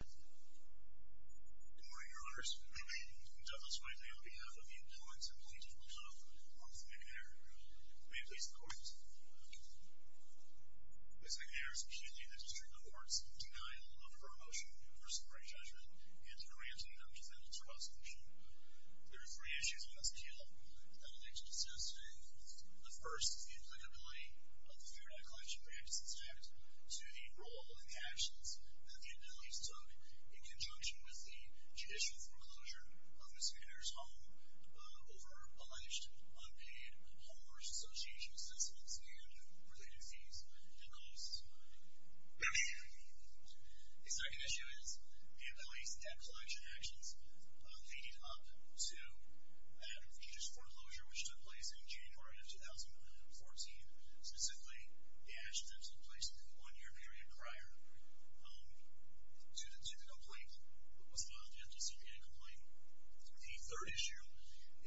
Good morning, Your Honors. I am Douglas Whiteley, on behalf of the employees of the Legislature of New York. I'm with McNair. May it please the Court. Ms. McNair is accused in the District Court of denial of promotion for Supreme Court judgment and granting of defendant's resolution. There are three issues with this appeal. I would like to discuss today. The first is the applicability of the Fair Debt Collection Practices Act to the role and actions that the employees took in conjunction with the judicial foreclosure of Ms. McNair's home over alleged unpaid homeowner's association assessments and related fees and losses. The second issue is the employees' debt collection actions leading up to the judge's foreclosure, which took place in June 4, 2014. Specifically, the actions that took place in the one-year period prior to the complaint was filed after the Supreme Court complaint. The third issue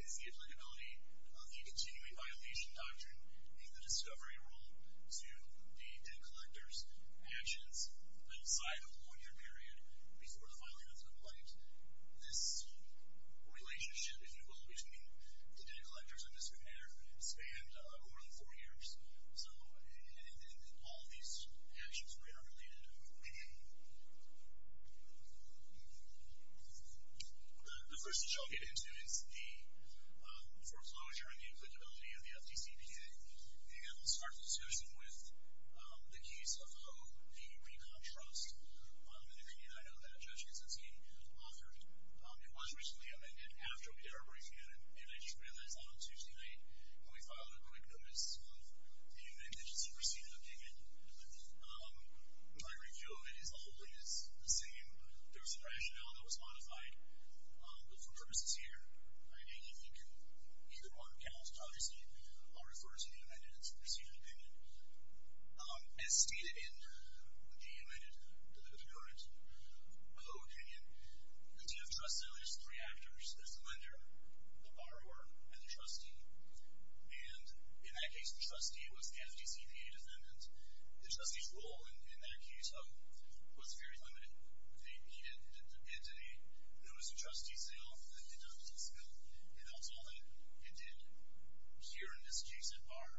is the applicability of the continuing violation doctrine and the discovery rule to the debt collector's actions outside of the one-year period before the filing of the complaint. This relationship, if you will, between the debt collectors and Ms. McNair spanned more than four years. All of these actions are related to the complaint. The first issue I'll get into is the foreclosure and the applicability of the FDCPA. I'll start this session with the case of Hope v. Peacock Trust, an opinion I know that Judge Kaczynski has authored. It was recently amended after a terrible incident, and I just realized that on Tuesday night, when we filed a quick notice of the amended agency proceeding opinion, my review of it is always the same. There was some rationale that was modified, but for purposes here, I think here on account of Kaczynski, I'll refer to the amended agency proceeding opinion. As stated in the amended appearance of the opinion, the TF trust sale is three actors. There's the lender, the borrower, and the trustee. And in that case, the trustee was the FDCPA defendant. The trustee's role in that case, though, was very limited. He did the bid to me. There was a trustee sale. I did the FDCPA. And that's all that it did here in this case at bar.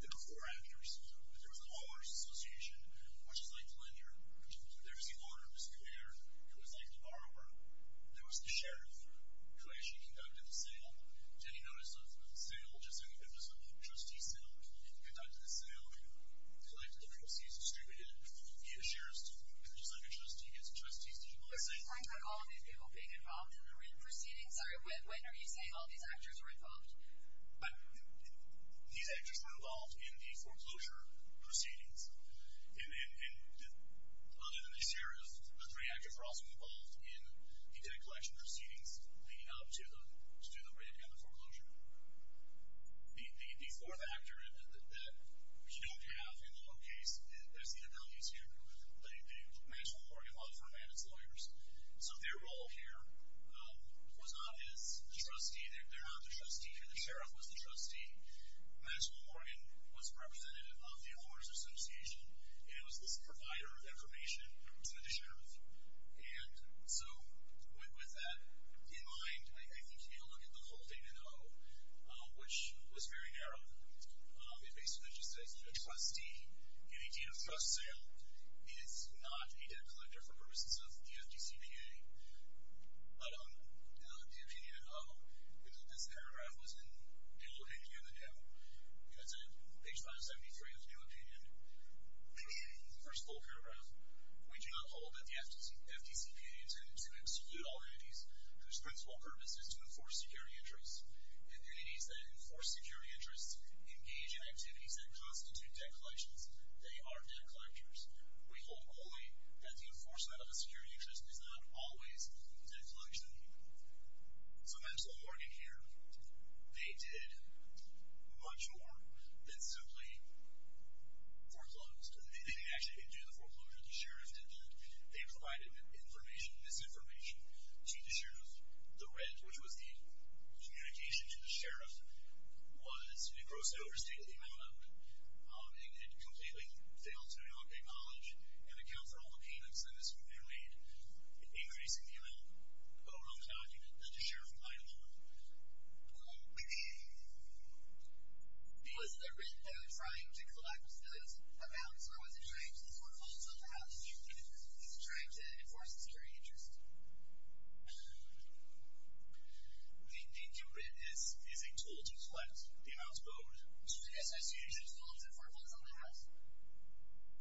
There were four actors. There was a homeowners association, which is like the lender. There was the owner, Ms. McNair. It was like the borrower. There was the sheriff, who actually conducted the sale. Did he notice the sale, just an episode of the trustee sale? He conducted the sale. He collected the proceeds distributed via sheriff's department, just like a trustee gets a trustee's digital assignment. At what point were all of these people being involved in the proceedings? When are you saying all these actors were involved? These actors were involved in the foreclosure proceedings. And other than the sheriff, the three actors were also involved in the debt collection proceedings, leading up to the rate and the foreclosure. The fourth actor that you don't have in the whole case, that's the attorneys here. The Maxwell Morgan Law Firm and its lawyers. So their role here was not as the trustee. They're not the trustee here. The sheriff was the trustee. Maxwell Morgan was representative of the homeowners association, and was the provider of information to the sheriff. And so with that in mind, I think you need to look at the whole thing in O, which was very narrow. It basically just says trustee. Any kind of trust sale is not a debt collector for purposes of the FDCPA. But in the end, this paragraph was in the old and the new. It's in page 573 of the new opinion. First full paragraph. We do not hold that the FDCPA intended to execute all entities whose principal purpose is to enforce security interests. And entities that enforce security interests engage in activities that constitute debt collections. They are debt collectors. We hold only that the enforcement of a security interest is not always a debt collection. So Maxwell Morgan here, they did much more than simply foreclose. They didn't actually do the foreclosure. The sheriff did that. They provided information, misinformation, to the sheriff. The red, which was the communication to the sheriff, was a gross overstatement of the amount owed. It completely failed to acknowledge and account for all the payments that have been made in increasing the amount overall accounting that the sheriff might have owed. Maybe it was the red that was trying to collect a balance or was it trying to foreclose on the house or was it trying to enforce a security interest? The red is a tool to collect the amount owed.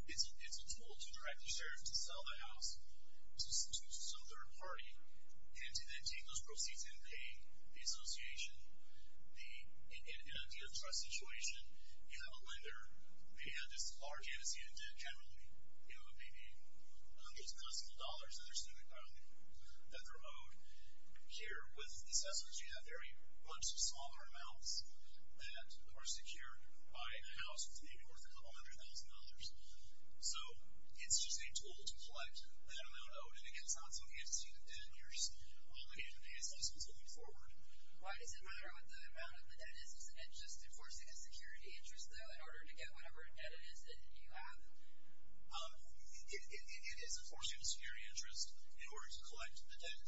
It's a tool to direct the sheriff to sell the house to some third party and to then take those proceeds and pay the association. In an idea of trust situation, you have a lender paying out this large amnesty in debt, generally it would be maybe hundreds of thousands of dollars that they're saying that they're owed. Here, with these estimates, you have very much smaller amounts that are secured by a house that's maybe worth a couple hundred thousand dollars. It's just a tool to collect that amount owed. It's not something that's seen in 10 years. It's something that's moving forward. Why does it matter what the amount of the debt is? Isn't it just enforcing a security interest, though, in order to get whatever debt it is that you have? It is enforcing a security interest in order to collect the debt.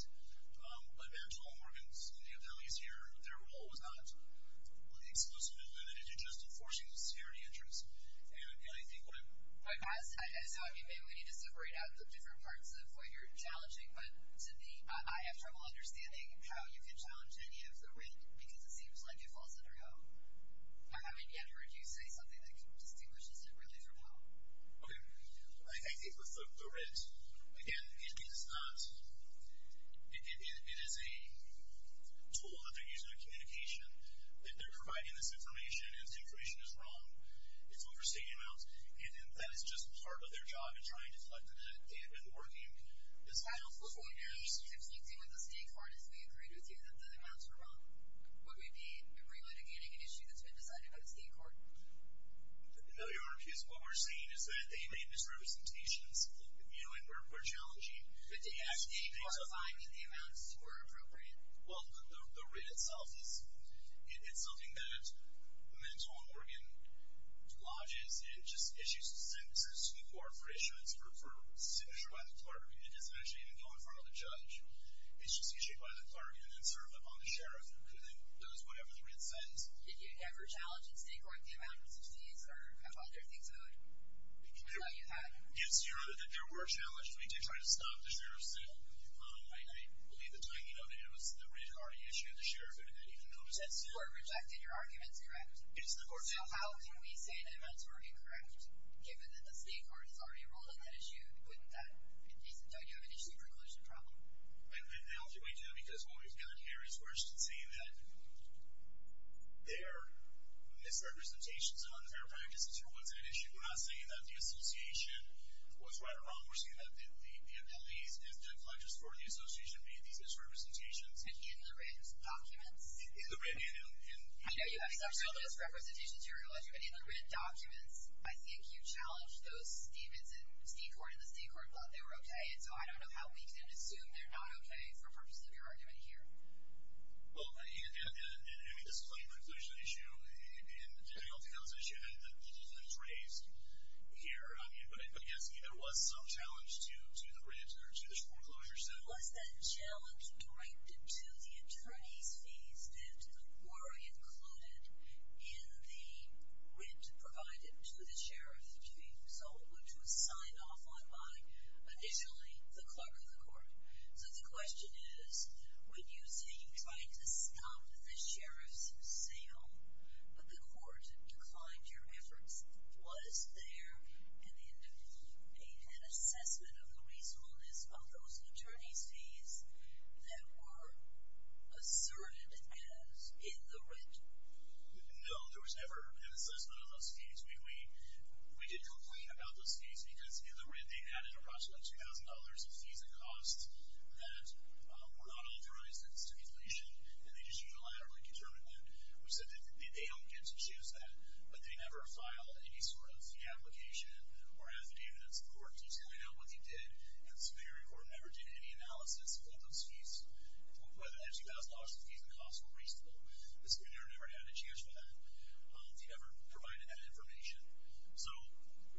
But back to all Morgan's values here, their role was not exclusively limited to just enforcing a security interest. And I think what I'm... I saw you say we need to separate out the different parts of what you're challenging, but to me, I have trouble understanding how you can challenge any of the red because it seems like it falls under home. I haven't yet heard you say something that distinguishes it really from home. Okay, I think with the red, again, it is not... It is a tool that they're using in communication that they're providing this information, and this information is wrong. It's overstating amounts. And that is just part of their job in trying to collect the debt. They have been working this out for 40 years. If you deal with the state court, if they agreed with you that the amounts were wrong, would we be really demanding an issue that's been decided by the state court? No, Your Honor, because what we're seeing is that they made misrepresentations. You know, and we're challenging. But did the state court find that the amounts were appropriate? Well, the red itself is... It's something that the mental and organ lodges. It just issues a statement to the state court for issuance, for signature by the clerk. It doesn't actually even go in front of the judge. It's just issued by the clerk and then served up on the sheriff, who then does whatever the red says. Did you ever challenge the state court the amounts of fees or other things like that? Yes, Your Honor, there were challenges. We did try to stop the sheriff's sale. I believe the timing of it was that we had already issued it to the sheriff and then he didn't notice it. So the court rejected your arguments, correct? It's the court's fault. So how can we say the amounts were incorrect? Given that the state court has already ruled on that issue, wouldn't that be decent? Don't you have an issue preclusion problem? And how do we do it? Because what we've done here is we're just saying that there are misrepresentations on their practices. So what's an issue? We're not saying that the association was right or wrong. We're saying that the penalties and the pledges for the association made these misrepresentations. And in the written documents. In the written. I know you have exceptional misrepresentations, Your Honor. But in the written documents, I think you challenged those statements and the state court thought they were okay. And so I don't know how we can assume they're not okay for the purpose of your argument here. Well, in this claim preclusion issue, in Daniel Towns' issue, the pledges that was raised here, I mean, but I guess there was some challenge to the rent or to the foreclosure settlement. Was that challenge directed to the attorney's fees that were included in the rent provided to the sheriff to be sold, So the question is, when you say you tried to stop the sheriff's sale, but the court declined your efforts, was there an assessment of the reasonableness of those attorney's fees that were asserted as in the rent? No, there was never an assessment of those fees. We did complain about those fees because in the rent, they added approximately $2,000 in fees and costs that were not authorized in the stipulation, and they just unilaterally determined that. We said that they don't get to choose that, but they never filed any sort of fee application or affidavit of support detailing what they did, and the subpoenary court never did any analysis of those fees, whether that $2,000 in fees and costs were reasonable. The subpoena never had a chance for that. They never provided that information. So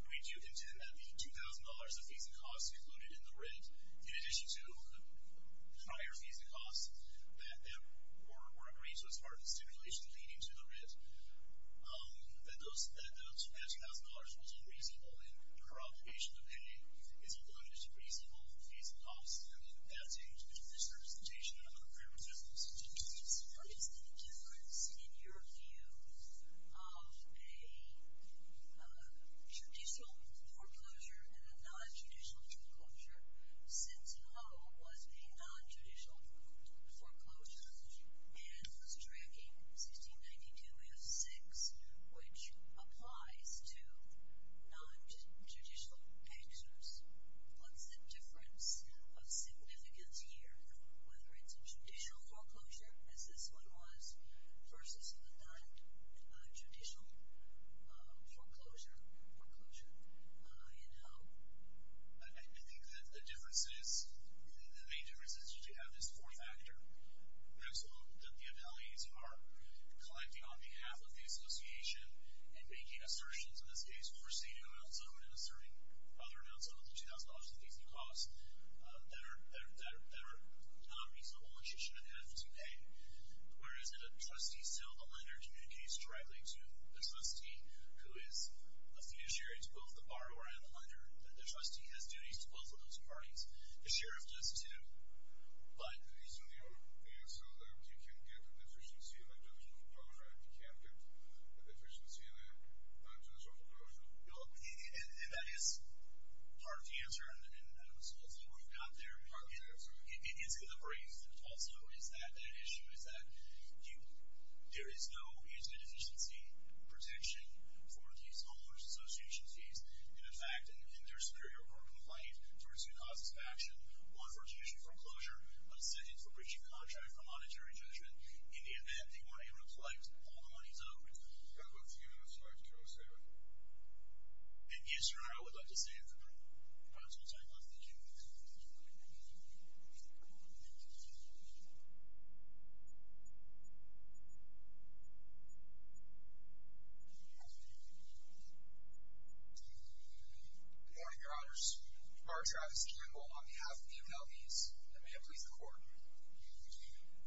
we do contend that the $2,000 of fees and costs included in the rent, in addition to the prior fees and costs that were agreed to as part of the stipulation leading to the rent, that those $2,000 was unreasonable, and her obligation to pay is included as a reasonable fees and costs, and that changed between the certification and the affirmative decision. Did you notice any difference in your view of a judicial foreclosure and a non-judicial foreclosure? Since Ho was a non-judicial foreclosure, and was tracking 1692 F6, which applies to non-judicial actors, what's the difference of significance here, whether it's a judicial foreclosure, as this one was, versus a non-judicial foreclosure in Ho? I think that the difference is, the main difference is that you have this four-factor maximum that the appellees are collecting on behalf of the association and making assertions, in this case, overseeing an amount sum and asserting other amounts other than the $2,000 in fees and costs that are not reasonable and she shouldn't have to pay, whereas if a trustee still, the lender communicates directly to the trustee, who is a fiduciary to both the borrower and the lender, the trustee has duties to both of those parties. The sheriff does, too, but... So you can get efficiency in a judicial foreclosure, but you can't get efficiency in a judicial foreclosure? And that is part of the answer, and that's what we've got there. Part of the answer. It's in the brief. Also, is that an issue, is that there is no easy deficiency protection for these homeowners' association fees. In fact, in their superior court complaint, there are two causes of action, one for judicial foreclosure, a sentence for breaching a contract, a monetary judgment, in the event that you want to be able to collect all the money. I have a few minutes, so I can throw a statement. In the interim, I would like to say in the interim... Good morning, Your Honors. Mark Travis Campbell on behalf of the MLBs, and may it please the Court.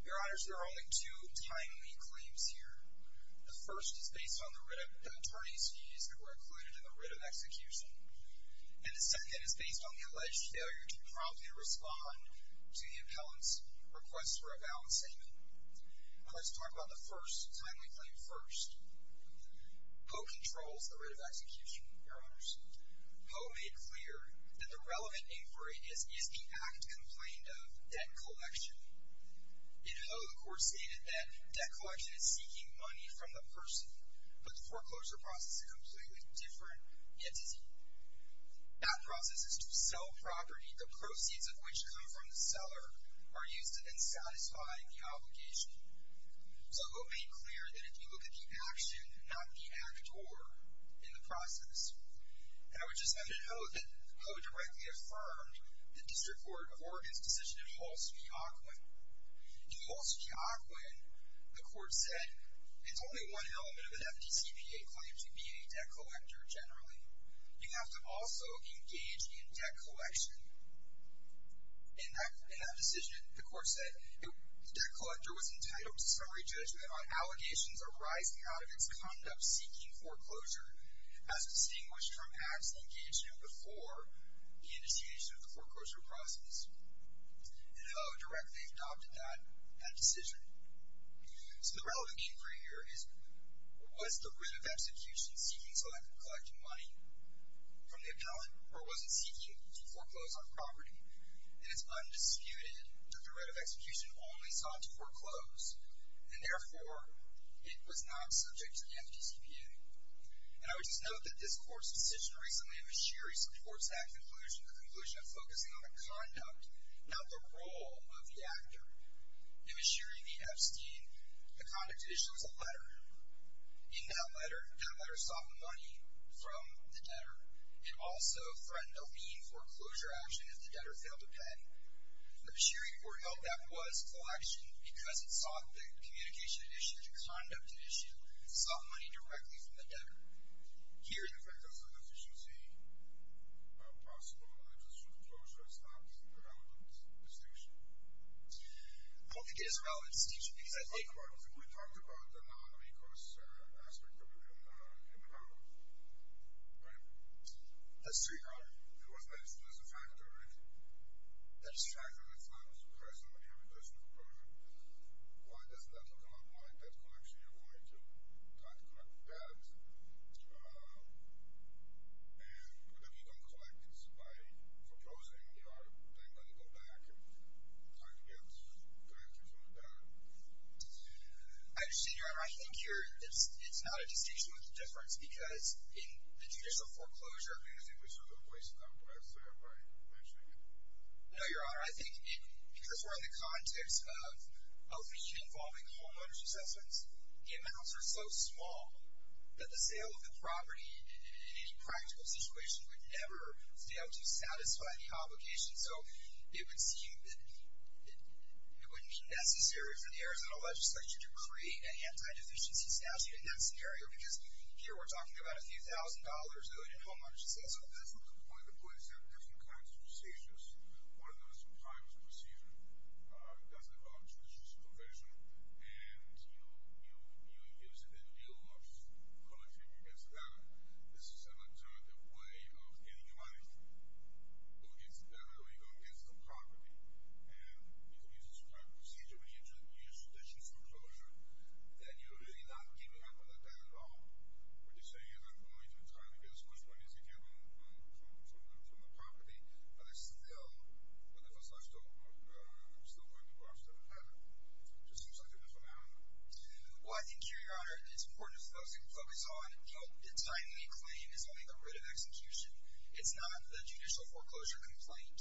Your Honors, there are only two timely claims here. The first is based on the attorneys who were included in the writ of execution, and the second is based on the alleged failure to promptly respond to the appellant's request for a balance statement. Let's talk about the first timely claim first. Poe controls the writ of execution, Your Honors. Poe made clear that the relevant inquiry is the act complained of, debt collection. In Poe, the Court stated that debt collection is seeking money from the person, but the foreclosure process is a completely different entity. That process is to sell property, the proceeds of which come from the seller, are used to then satisfy the obligation. So Poe made clear that if you look at the action, not the act or in the process. And I would just like to note that Poe directly affirmed the District Court of Oregon's decision in Holsby, Oakland. In Holsby, Oakland, the Court said, it's only one element of an FDCPA claim to be a debt collector, generally. You have to also engage in debt collection. In that decision, the Court said, the debt collector was entitled to summary judgment on allegations arising out of its conduct in seeking foreclosure, as distinguished from acts engaged in before the initiation of the foreclosure process. And Poe directly adopted that decision. So the relevant inquiry here is, was the writ of execution seeking selective collecting money from the appellant, or was it seeking to foreclose on property? And it's undisputed that the writ of execution only sought to foreclose. And therefore, it was not subject to the FDCPA. And I would just note that this Court's decision recently in Bashiri supports that conclusion, the conclusion of focusing on the conduct, not the role of the actor. In Bashiri v. Epstein, the conduct issue was a letter. In that letter, that letter sought money from the debtor. It also threatened a lien for foreclosure action if the debtor failed to pay. Again, Bashiri foretold that was collection because it sought the communication issue, the conduct issue. It sought money directly from the debtor. Here, the writ of execution seeking possible money just for foreclosure is not a relevant distinction. Well, it is a relevant distinction because I think... But we talked about the non-incurs aspect of it in the panel. Right? That's true. It was mentioned as a factor, right? That it's a factor. It's not just a person, but in relation to the person. Why doesn't that become a part of debt collection? Why do you try to collect debt? And if you don't collect it by foreclosing, you are letting it go back and trying to be able to collect it from the debtor. I understand. I think it's not a distinction, but it's a difference because in the judicial foreclosure, I think it's a distinction. I'm sorry. I'm probably mentioning it. No, Your Honor. I think because we're in the context of outreach involving homeowners' assessments, the amounts are so small that the sale of the property in any practical situation would never be able to satisfy the obligation. So it would seem that it wouldn't be necessary for the Arizona legislature to create an anti-deficiency statute in that scenario because here we're talking about a few thousand dollars or a billion dollars. So that's a different point. The point is there are different kinds of statutes. One of them is a primers procedure. It doesn't involve judicial supervision, and you know, it gives you the deal of collecting against the debtor. This is an alternative way of getting your money to go against the debtor or you go against the property. And you can use this kind of procedure when you introduce judicial foreclosure that you're really not giving up on the debt at all. What you're saying is I've only been trying to get as much money as I can from the property, but I'm still going to go after the debtor. It just seems like a different matter. Well, I think, Your Honor, it's important for folks to focus on how tiny a claim is only the writ of execution. It's not the judicial foreclosure complaint.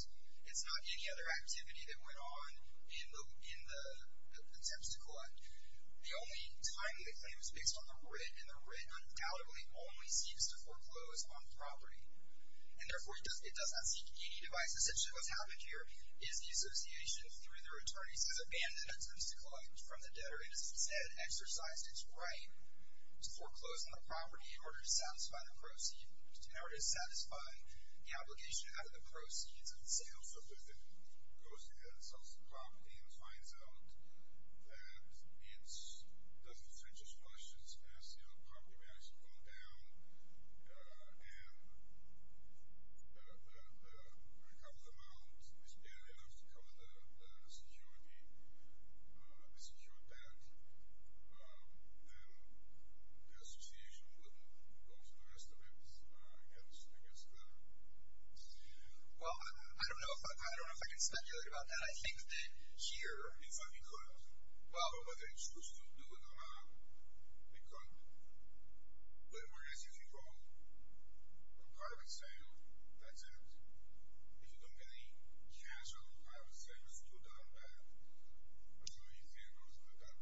It's not any other activity that went on in the attempts to collect. The only tiny claim is based on the writ, and the writ undoubtedly only seeks to foreclose on property. And therefore, it does not seek any device. Essentially, what's happening here is the association, through their attorneys, has abandoned attempts to collect from the debtor and has instead exercised its right to foreclose on the property in order to satisfy the proceed, in order to satisfy the obligation to have the proceeds of the sale. So if it goes against the property and finds out that it doesn't fetch as much as the sale, the property may actually go down, and the recovered amount is barely enough to cover the security debt, then the association would go to the rest of its heads against the debtor. Well, I don't know if I can speculate about that. But I think that here, if I could, well, what they're supposed to do with the amount, they couldn't. But what if you're wrong? Part of it's sale. That's it. If you don't get any chance of having the savings to go down bad, I don't know what you think about that.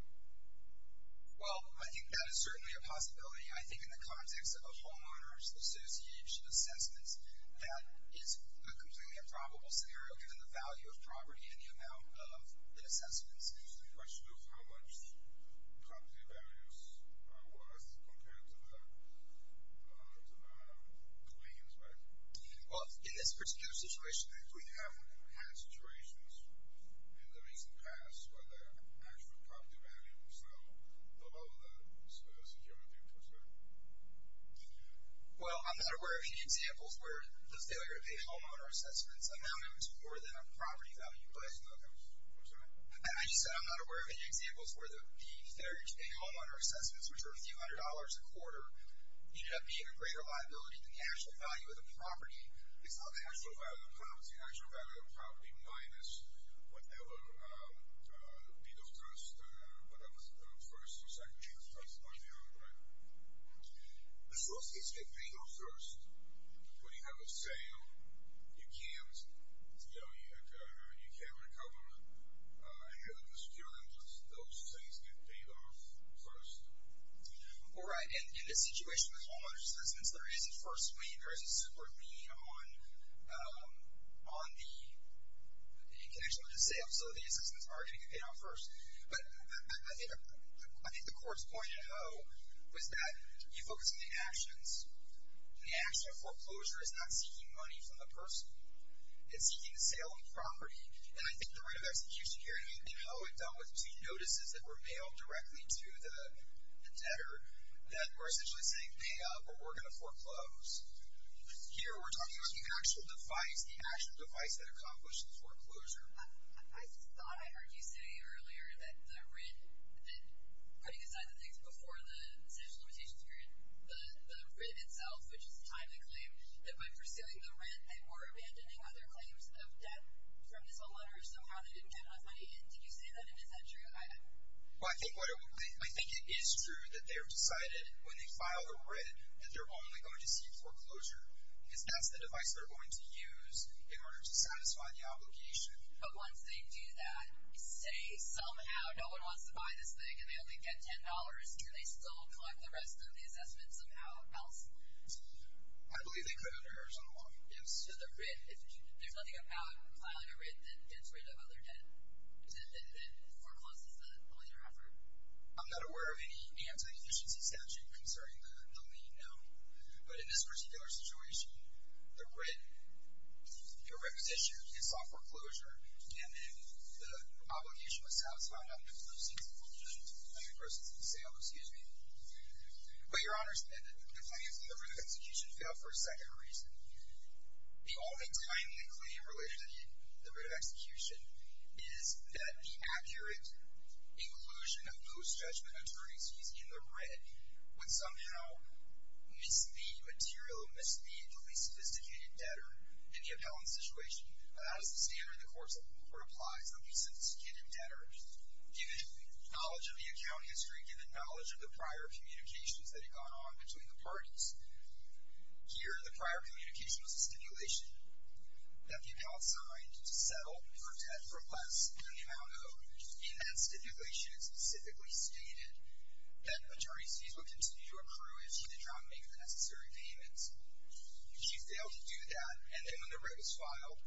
Well, I think that is certainly a possibility. I think in the context of a homeowners' association assessment, that is a completely improbable scenario given the value of property and the amount of the assessments. There's the question of how much property values are worth compared to the claims, right? Well, in this particular situation, we haven't had situations in the recent past where the actual property values are below the security interest rate. Well, I'm not aware of any examples where the failure to pay homeowner assessments amounted to more than a property value. I'm sorry? I just said I'm not aware of any examples where the failure to pay homeowner assessments, which are a few hundred dollars a quarter, ended up being a greater liability than the actual value of the property. It's not the actual value of the property. It's the actual value of the property minus whatever the legal trust, whatever's the first or second chance trust on you, right? But you also get to pay legal trust. When you have a sale, you can't, you know, you can't recover the security interest. Those things get paid off first. Oh, right, and in this situation with homeowner assessments, there is a first win, there is a support win on the connection with the sale, so the assessments are getting paid off first. But I think the court's point, though, was that you focus on the actions. The action of foreclosure is not seeking money from the person. It's seeking a sale on property. And I think the right of execution here, and how it dealt with between notices that were mailed directly to the debtor, that we're essentially saying, pay up or we're going to foreclose. Here we're talking about the actual device, the actual device that accomplished the foreclosure. I just thought I heard you say earlier that the rent, that putting aside the things before the essential limitations period, the writ itself, which is the time of the claim, that by pursuing the rent, they were abandoning other claims of debt from this homeowner. Somehow they didn't have enough money. Did you say that, and is that true? Well, I think it is true that they've decided, when they file the writ, that they're only going to seek foreclosure because that's the device they're going to use in order to satisfy the obligation. But once they do that, say, somehow, no one wants to buy this thing and they only get $10, can they still collect the rest of the assessment somehow else? I believe they could under Arizona law. So the writ, if there's nothing about filing a writ that gets rid of other debt, then forecloses the later effort? I'm not aware of any anti-efficiency statute concerning the lien, no. But in this particular situation, the writ was issued, you saw foreclosure, and then the obligation was satisfied, not foreclosing the foreclosure to the claimant versus the sale, excuse me. But, Your Honors, the claimants in the writ of execution failed for a second reason. The only timely claim in relation to the writ of execution is that the accurate inclusion of those judgment attorneys using the writ would somehow mislead material, mislead the least sophisticated debtor in the appellant situation. But that is the standard in the courts of law where it applies only to sophisticated debtors. Given knowledge of the account history, given knowledge of the prior communications that had gone on between the parties, here, the prior communication was a stipulation that the appellant signed to settle for debt for less than the amount owed. In that stipulation, it specifically stated that attorney's fees would continue to accrue if she did not make the necessary payments. She failed to do that, and then when the writ was filed,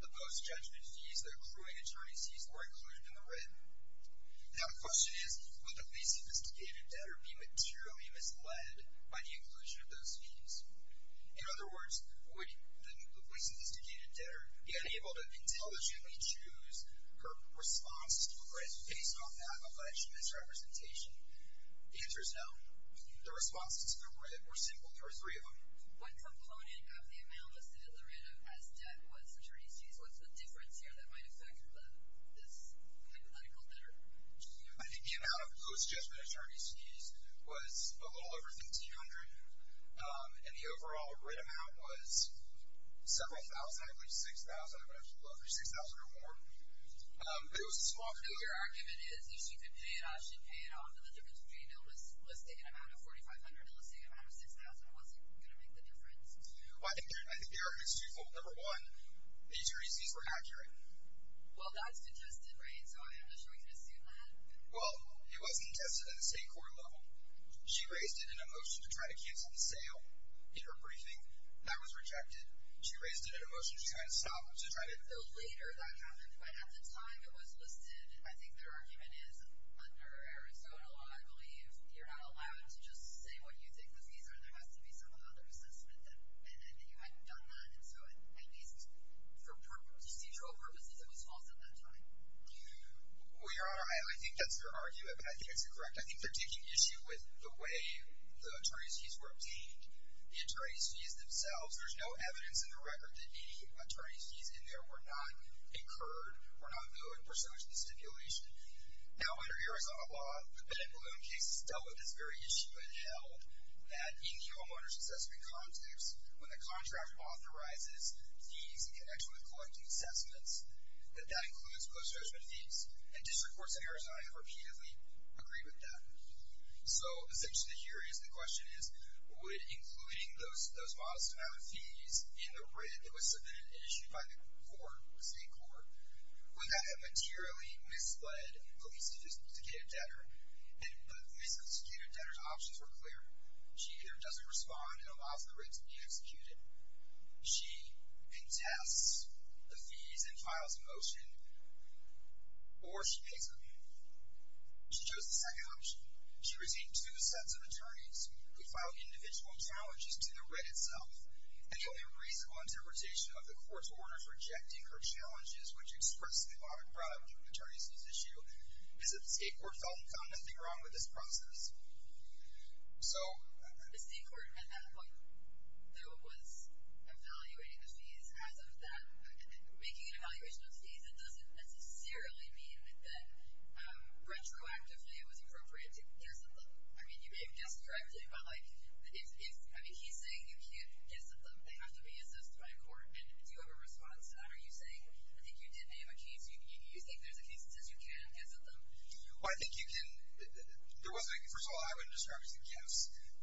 the post-judgment fees that accruing attorneys used were included in the writ. Now, the question is, would the least sophisticated debtor be materially misled by the inclusion of those fees? In other words, would the least sophisticated debtor be unable to intelligently choose her responses to the writ based on the appellant's misrepresentation? The answer is no. The responses to the writ were simple. There were three of them. What component of the amount listed in the writ as debt was attorney's fees? What's the difference here that might affect this hypothetical debtor? I think the amount of post-judgment attorney's fees was a little over $1,500, and the overall writ amount was several thousand, I believe $6,000, I'm not sure, $6,000 or more. It was a small figure. Your argument is, if she could pay it off, she'd pay it off, and the difference between it listing an amount of $4,500 and listing an amount of $6,000 wasn't going to make the difference. Well, I think the argument is twofold. Number one, the attorney's fees were inaccurate. Well, that's contested, right? So I'm not sure we can assume that. Well, it was contested at the state court level. She raised it in a motion to try to cancel the sale in her briefing. That was rejected. She raised it in a motion to try and stop, to try to build later. That happened, but at the time it was listed, I think their argument is, under Arizona law, I believe, you're not allowed to just say what you think the fees are. There has to be some other assessment, and you hadn't done that, and so at least for procedural purposes, it was false at that time. Well, Your Honor, I think that's her argument, but I think that's incorrect. I think they're taking issue with the way the attorney's fees were obtained. The attorney's fees themselves, there's no evidence in the record that any attorney's fees in there were not incurred, were not billed in pursuance of the stipulation. Now, under Arizona law, the bed and balloon cases dealt with this very issue and held that in the homeowner's assessment context, when the contract authorizes fees in connection with collecting assessments, that that includes post-judgment fees, and district courts in Arizona have repeatedly agreed with that. So, essentially, here is the question is, would including those modest amount of fees in the writ that was submitted and issued by the state court, without a materially misled police-adjudicated debtor, and the misadjudicated debtor's options were clear. She either doesn't respond and allows the writ to be executed, she contests the fees and files a motion, or she pays them. She chose the second option. She received two sets of attorneys who filed individual challenges to the writ itself. The only reasonable interpretation of the court's order for rejecting her challenges, which expressly lauded private attorneys whose issue is that the state court felt it found nothing wrong with this process. So... The state court meant that, like, though it was evaluating the fees as of then, making an evaluation of fees, it doesn't necessarily mean that retroactively it was appropriate to get some of them. I mean, you may have guessed correctly, but, like, if, I mean, he's saying you can't get some of them, they have to be assessed by a court, and if you have a response to that, are you saying, I think you did name a case, you think there's a case that says you can't get some of them? Well, I think you can... There was, like, first of all, I wouldn't describe it as a case.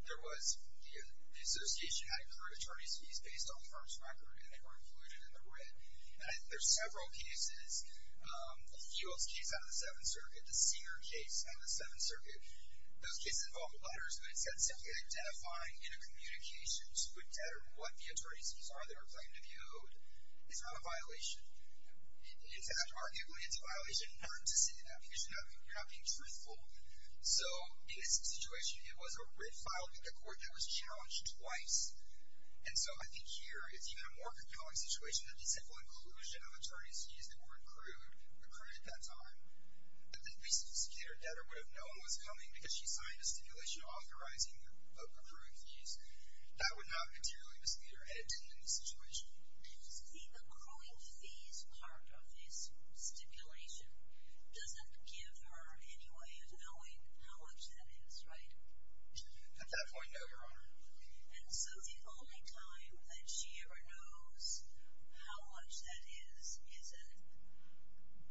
There was... The association had accrued attorney's fees based on the firm's record, and they were included in the writ. And there's several cases. The Fuels case on the Seventh Circuit, the Senior case on the Seventh Circuit, those cases involved letters, but it said simply identifying intercommunications with debtor what the attorney's fees are that are claimed to be owed. It's not a violation. It's arguably, it's a violation in terms of saying that because you're not being truthful. So, in this situation, it was a writ filed at the court that was challenged twice. And so, I think here, it's even a more compelling situation that the simple inclusion of attorney's fees that were accrued at that time, that the recently secured debtor would have known was coming because she signed a stipulation authorizing accruing fees, that would not materially mislead her head in this situation. The accruing fees part of this stipulation doesn't give her any way of knowing how much that is, right? At that point, no, Your Honor. And so, the only time that she ever knows how much that is is a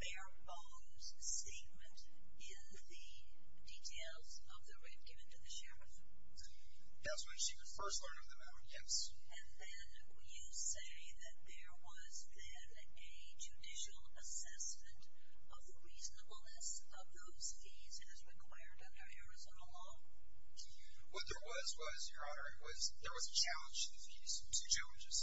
bare-bones statement in the details of the writ given to the sheriff. That's when she was first learning the amount, yes. And then, you say that there was then a judicial assessment of the reasonableness of those fees as required under Arizona law? What there was was, Your Honor, there was a challenge to the fees, two challenges.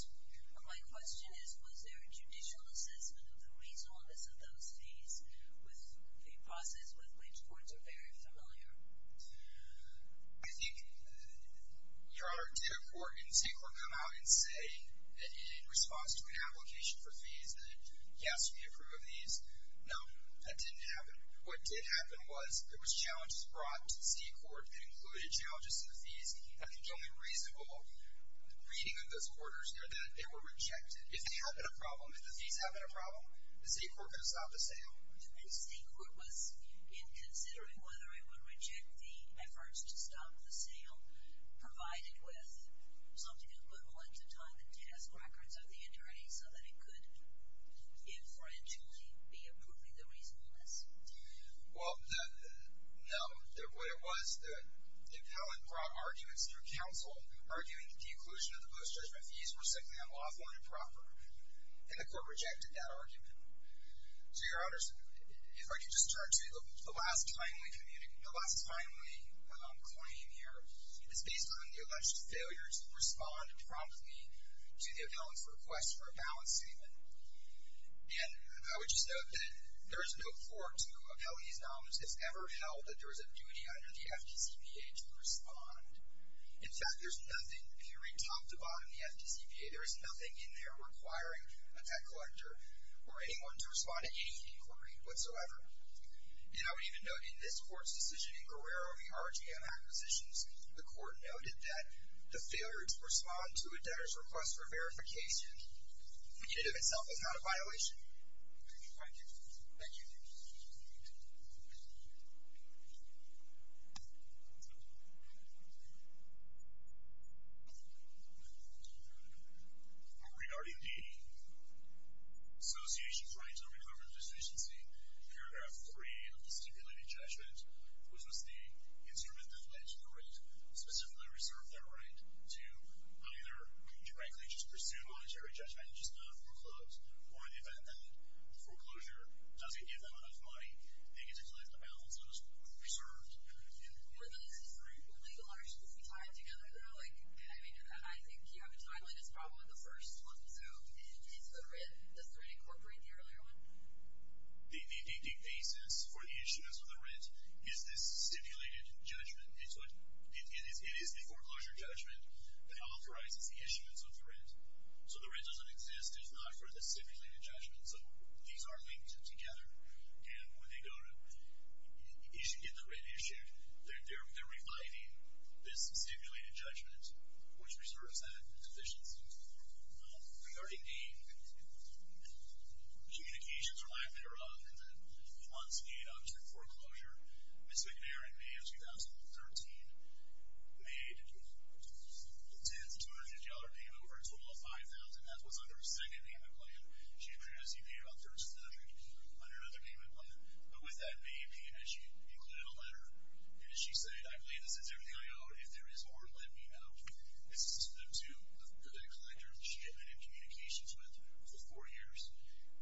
My question is, was there a judicial assessment of the reasonableness of those fees with the process with which courts are very familiar? I think, Your Honor, did a court, did a state court come out and say, in response to an application for fees, that, yes, we approve of these? No, that didn't happen. What did happen was, there was challenges brought to the state court that included challenges to the fees that the only reasonable reading of those orders are that they were rejected. If they have been a problem, if the fees have been a problem, is the state court going to stop the sale? The state court was considering whether it would reject the efforts to stop the sale provided with something equivalent to tying the task records of the attorney so that it could inferentially be approving the reasonableness. Well, no, what it was, there were compelling broad arguments through counsel arguing that the inclusion of the post-judgment fees were simply unlawful and improper, and the court rejected that argument. So, Your Honors, if I could just start to say, the last timely claim here is based on the alleged failure to respond promptly to the appellant's request for a balance statement. And I would just note that there is no court to appeal these domains if ever held that there is a duty under the FDCPA to respond. In fact, there's nothing, period, top to bottom in the FDCPA, there is nothing in there requiring a debt collector or anyone to respond to any inquiry whatsoever. And I would even note in this court's decision in Guerrero in the RGM acquisitions, the court noted that the failure to respond to a debtor's request for verification in and of itself is not a violation. Thank you. Thank you. Regarding the association's right to recover the deficiency, paragraph 3 of the stipulated judgment was just the instrument that led to the right to specifically reserve that right to either, frankly, just pursue monetary judgment and just not foreclose, or in the event that foreclosure doesn't give them enough money, they get to collect the balance, and it's reserved. Were those three legal arguments you tied together, though? I mean, I think you have a tie, but it's probably the first one. So in case of the writ, does the writ incorporate the earlier one? The basis for the issuance of the writ is this stipulated judgment. It is the foreclosure judgment that authorizes the issuance of the writ. So the writ doesn't exist, it's not for the stipulated judgment, so these are linked together. And when they go to issue, get the writ issued, they're reviving this stipulated judgment, which reserves that deficiency. Regarding the communications or lack thereof, and then the months lead up to foreclosure, Ms. McNair, in May of 2013, made a $10,250 payment, over a total of $5,000. That's what's on her second payment plan. She introduced it in May of 2007 on another payment plan. But with that May payment, she included a letter, and she said, I believe this is everything I owe. If there is more, let me know. This is to the collector that she had been in communications with for four years.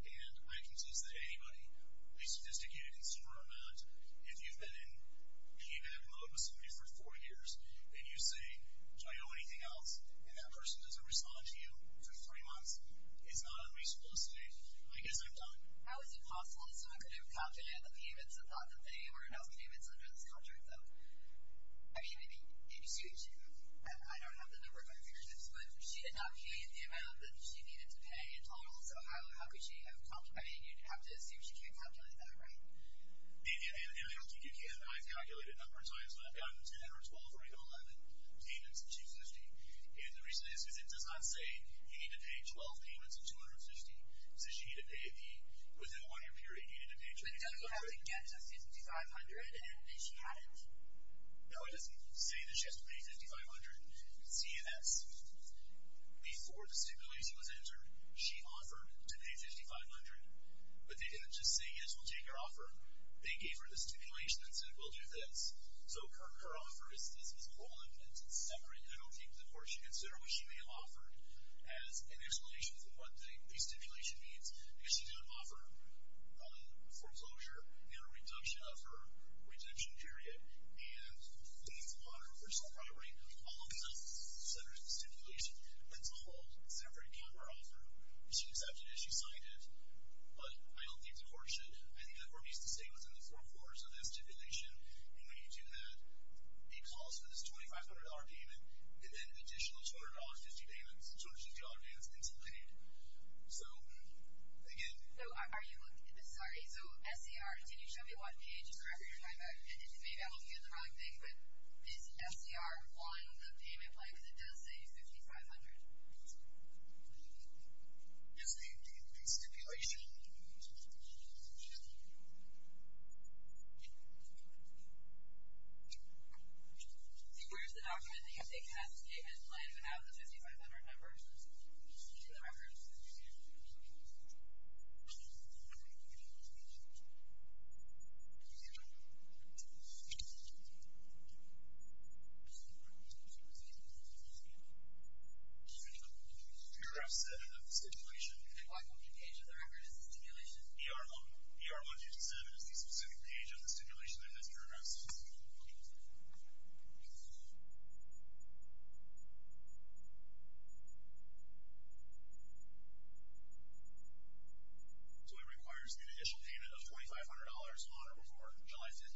And I can tell you that anybody, at least a sophisticated consumer amount, if you've been in payback mode with somebody for four years, and you say, do I owe anything else, and that person doesn't respond to you for three months, it's not unreasonable to say, I guess I'm done. How is it possible that someone could have complimented the payments and thought that they were enough payments under this contract, though? I mean, maybe Sue should have. I don't have the number of my fingers, but if she had not paid the amount that she needed to pay, and also, how could she have complimented? You'd have to assume she can't calculate that, right? And I don't think you can. I've calculated it a number of times, but I've gotten 10, or 12, or 11 payments in $250. And the reason is, is it does not say you need to pay 12 payments in $250. It says you need to pay within one year period. You need to pay $2,500. They don't have to get to $5,500, and she had it. No, it doesn't say that she has to pay $5,500. It's E and S. Before the stipulation was entered, she offered to pay $5,500. But they didn't just say, yes, we'll take your offer. They gave her the stipulation and said, we'll do this. So her offer is this. It's a whole and separate little thing. Of course, you consider what she may have offered as an explanation for one thing. It's what the stipulation means. Because she did offer a foreclosure and a reduction of her redemption period. And things on her personal property. All of that centers the stipulation. That's a whole separate counteroffer. She accepted it. She signed it. But I don't think the court should. I think the court needs to stay within the four corners of that stipulation. And when you do that, it calls for this $2,500 payment, and then an additional $200, $50 payments, and George and John answer the $2,500. So again. So are you looking at this? Sorry. So SCR, can you show me what page in the record you're talking about? And maybe I'm looking at the wrong thing. But is SCR 1 the payment plan? Because it does say $5,500. Yes, ma'am. The stipulation. Where's the document that you think has the payment plan and doesn't have the 55,000 members? The record is in the stipulation. paragraph 7 of the stipulation. And what page of the record is the stipulation? ER 1. ER 1, page 7 is the specific page of the stipulation that this paragraph says. So it requires an initial payment of $2,500 on or before July 5,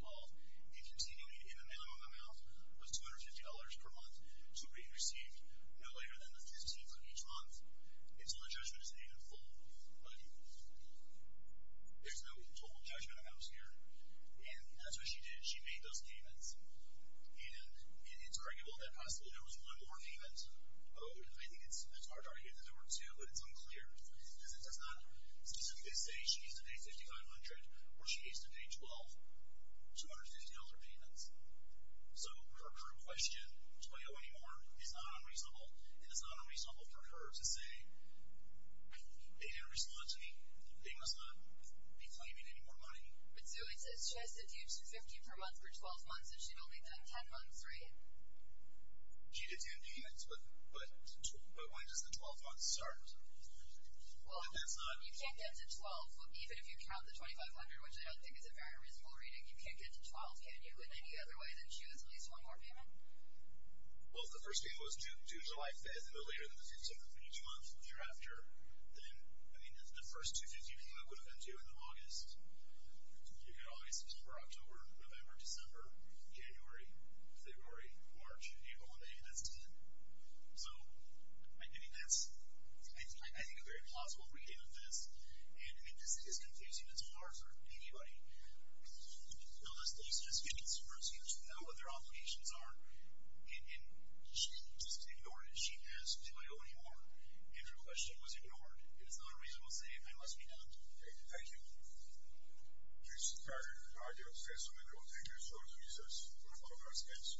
2012, and continuing in the minimum amount of $250 per month to be received no later than the 15th of each month until the judgment is made in full. But there's no total judgment amounts here. She made those payments. And it's arguable that possibly there was one more payment. I think it's hard to argue that there were two, but it's unclear. Because it does not specifically say she needs to pay $5,500 or she needs to pay $1,250 payments. So her current question, do I owe any more, is not unreasonable. And it's not unreasonable for her to say they didn't respond to me. They must not be claiming any more money. But, Sue, it says she has to do $250 per month for 12 months, and she'd only done 10 months, right? She did 10 payments. But when does the 12 months start? Well, you can't get to 12 even if you count the $2,500, which I don't think is a very reasonable reading. You can't get to 12, can you, in any other way than she owes at least one more payment? Well, if the first payment was due July 5 and no later than the 15th of each month or the year after, then, I mean, the first $250 payment would have been due in August. You could get August, December, October, November, December, January, February, March, April, and maybe that's it. So, I mean, that's, I think a very plausible reading of this. And this is confusing as far as anybody. You know, this person has been in this for a few years without what their obligations are, and she just ignored it. She asked, do I owe any more? If your question was ignored, it is not a reasonable saying. I must be damned. Okay, thank you. Please, I can't say so many more. Thank you so much for your service. Good luck on your exams.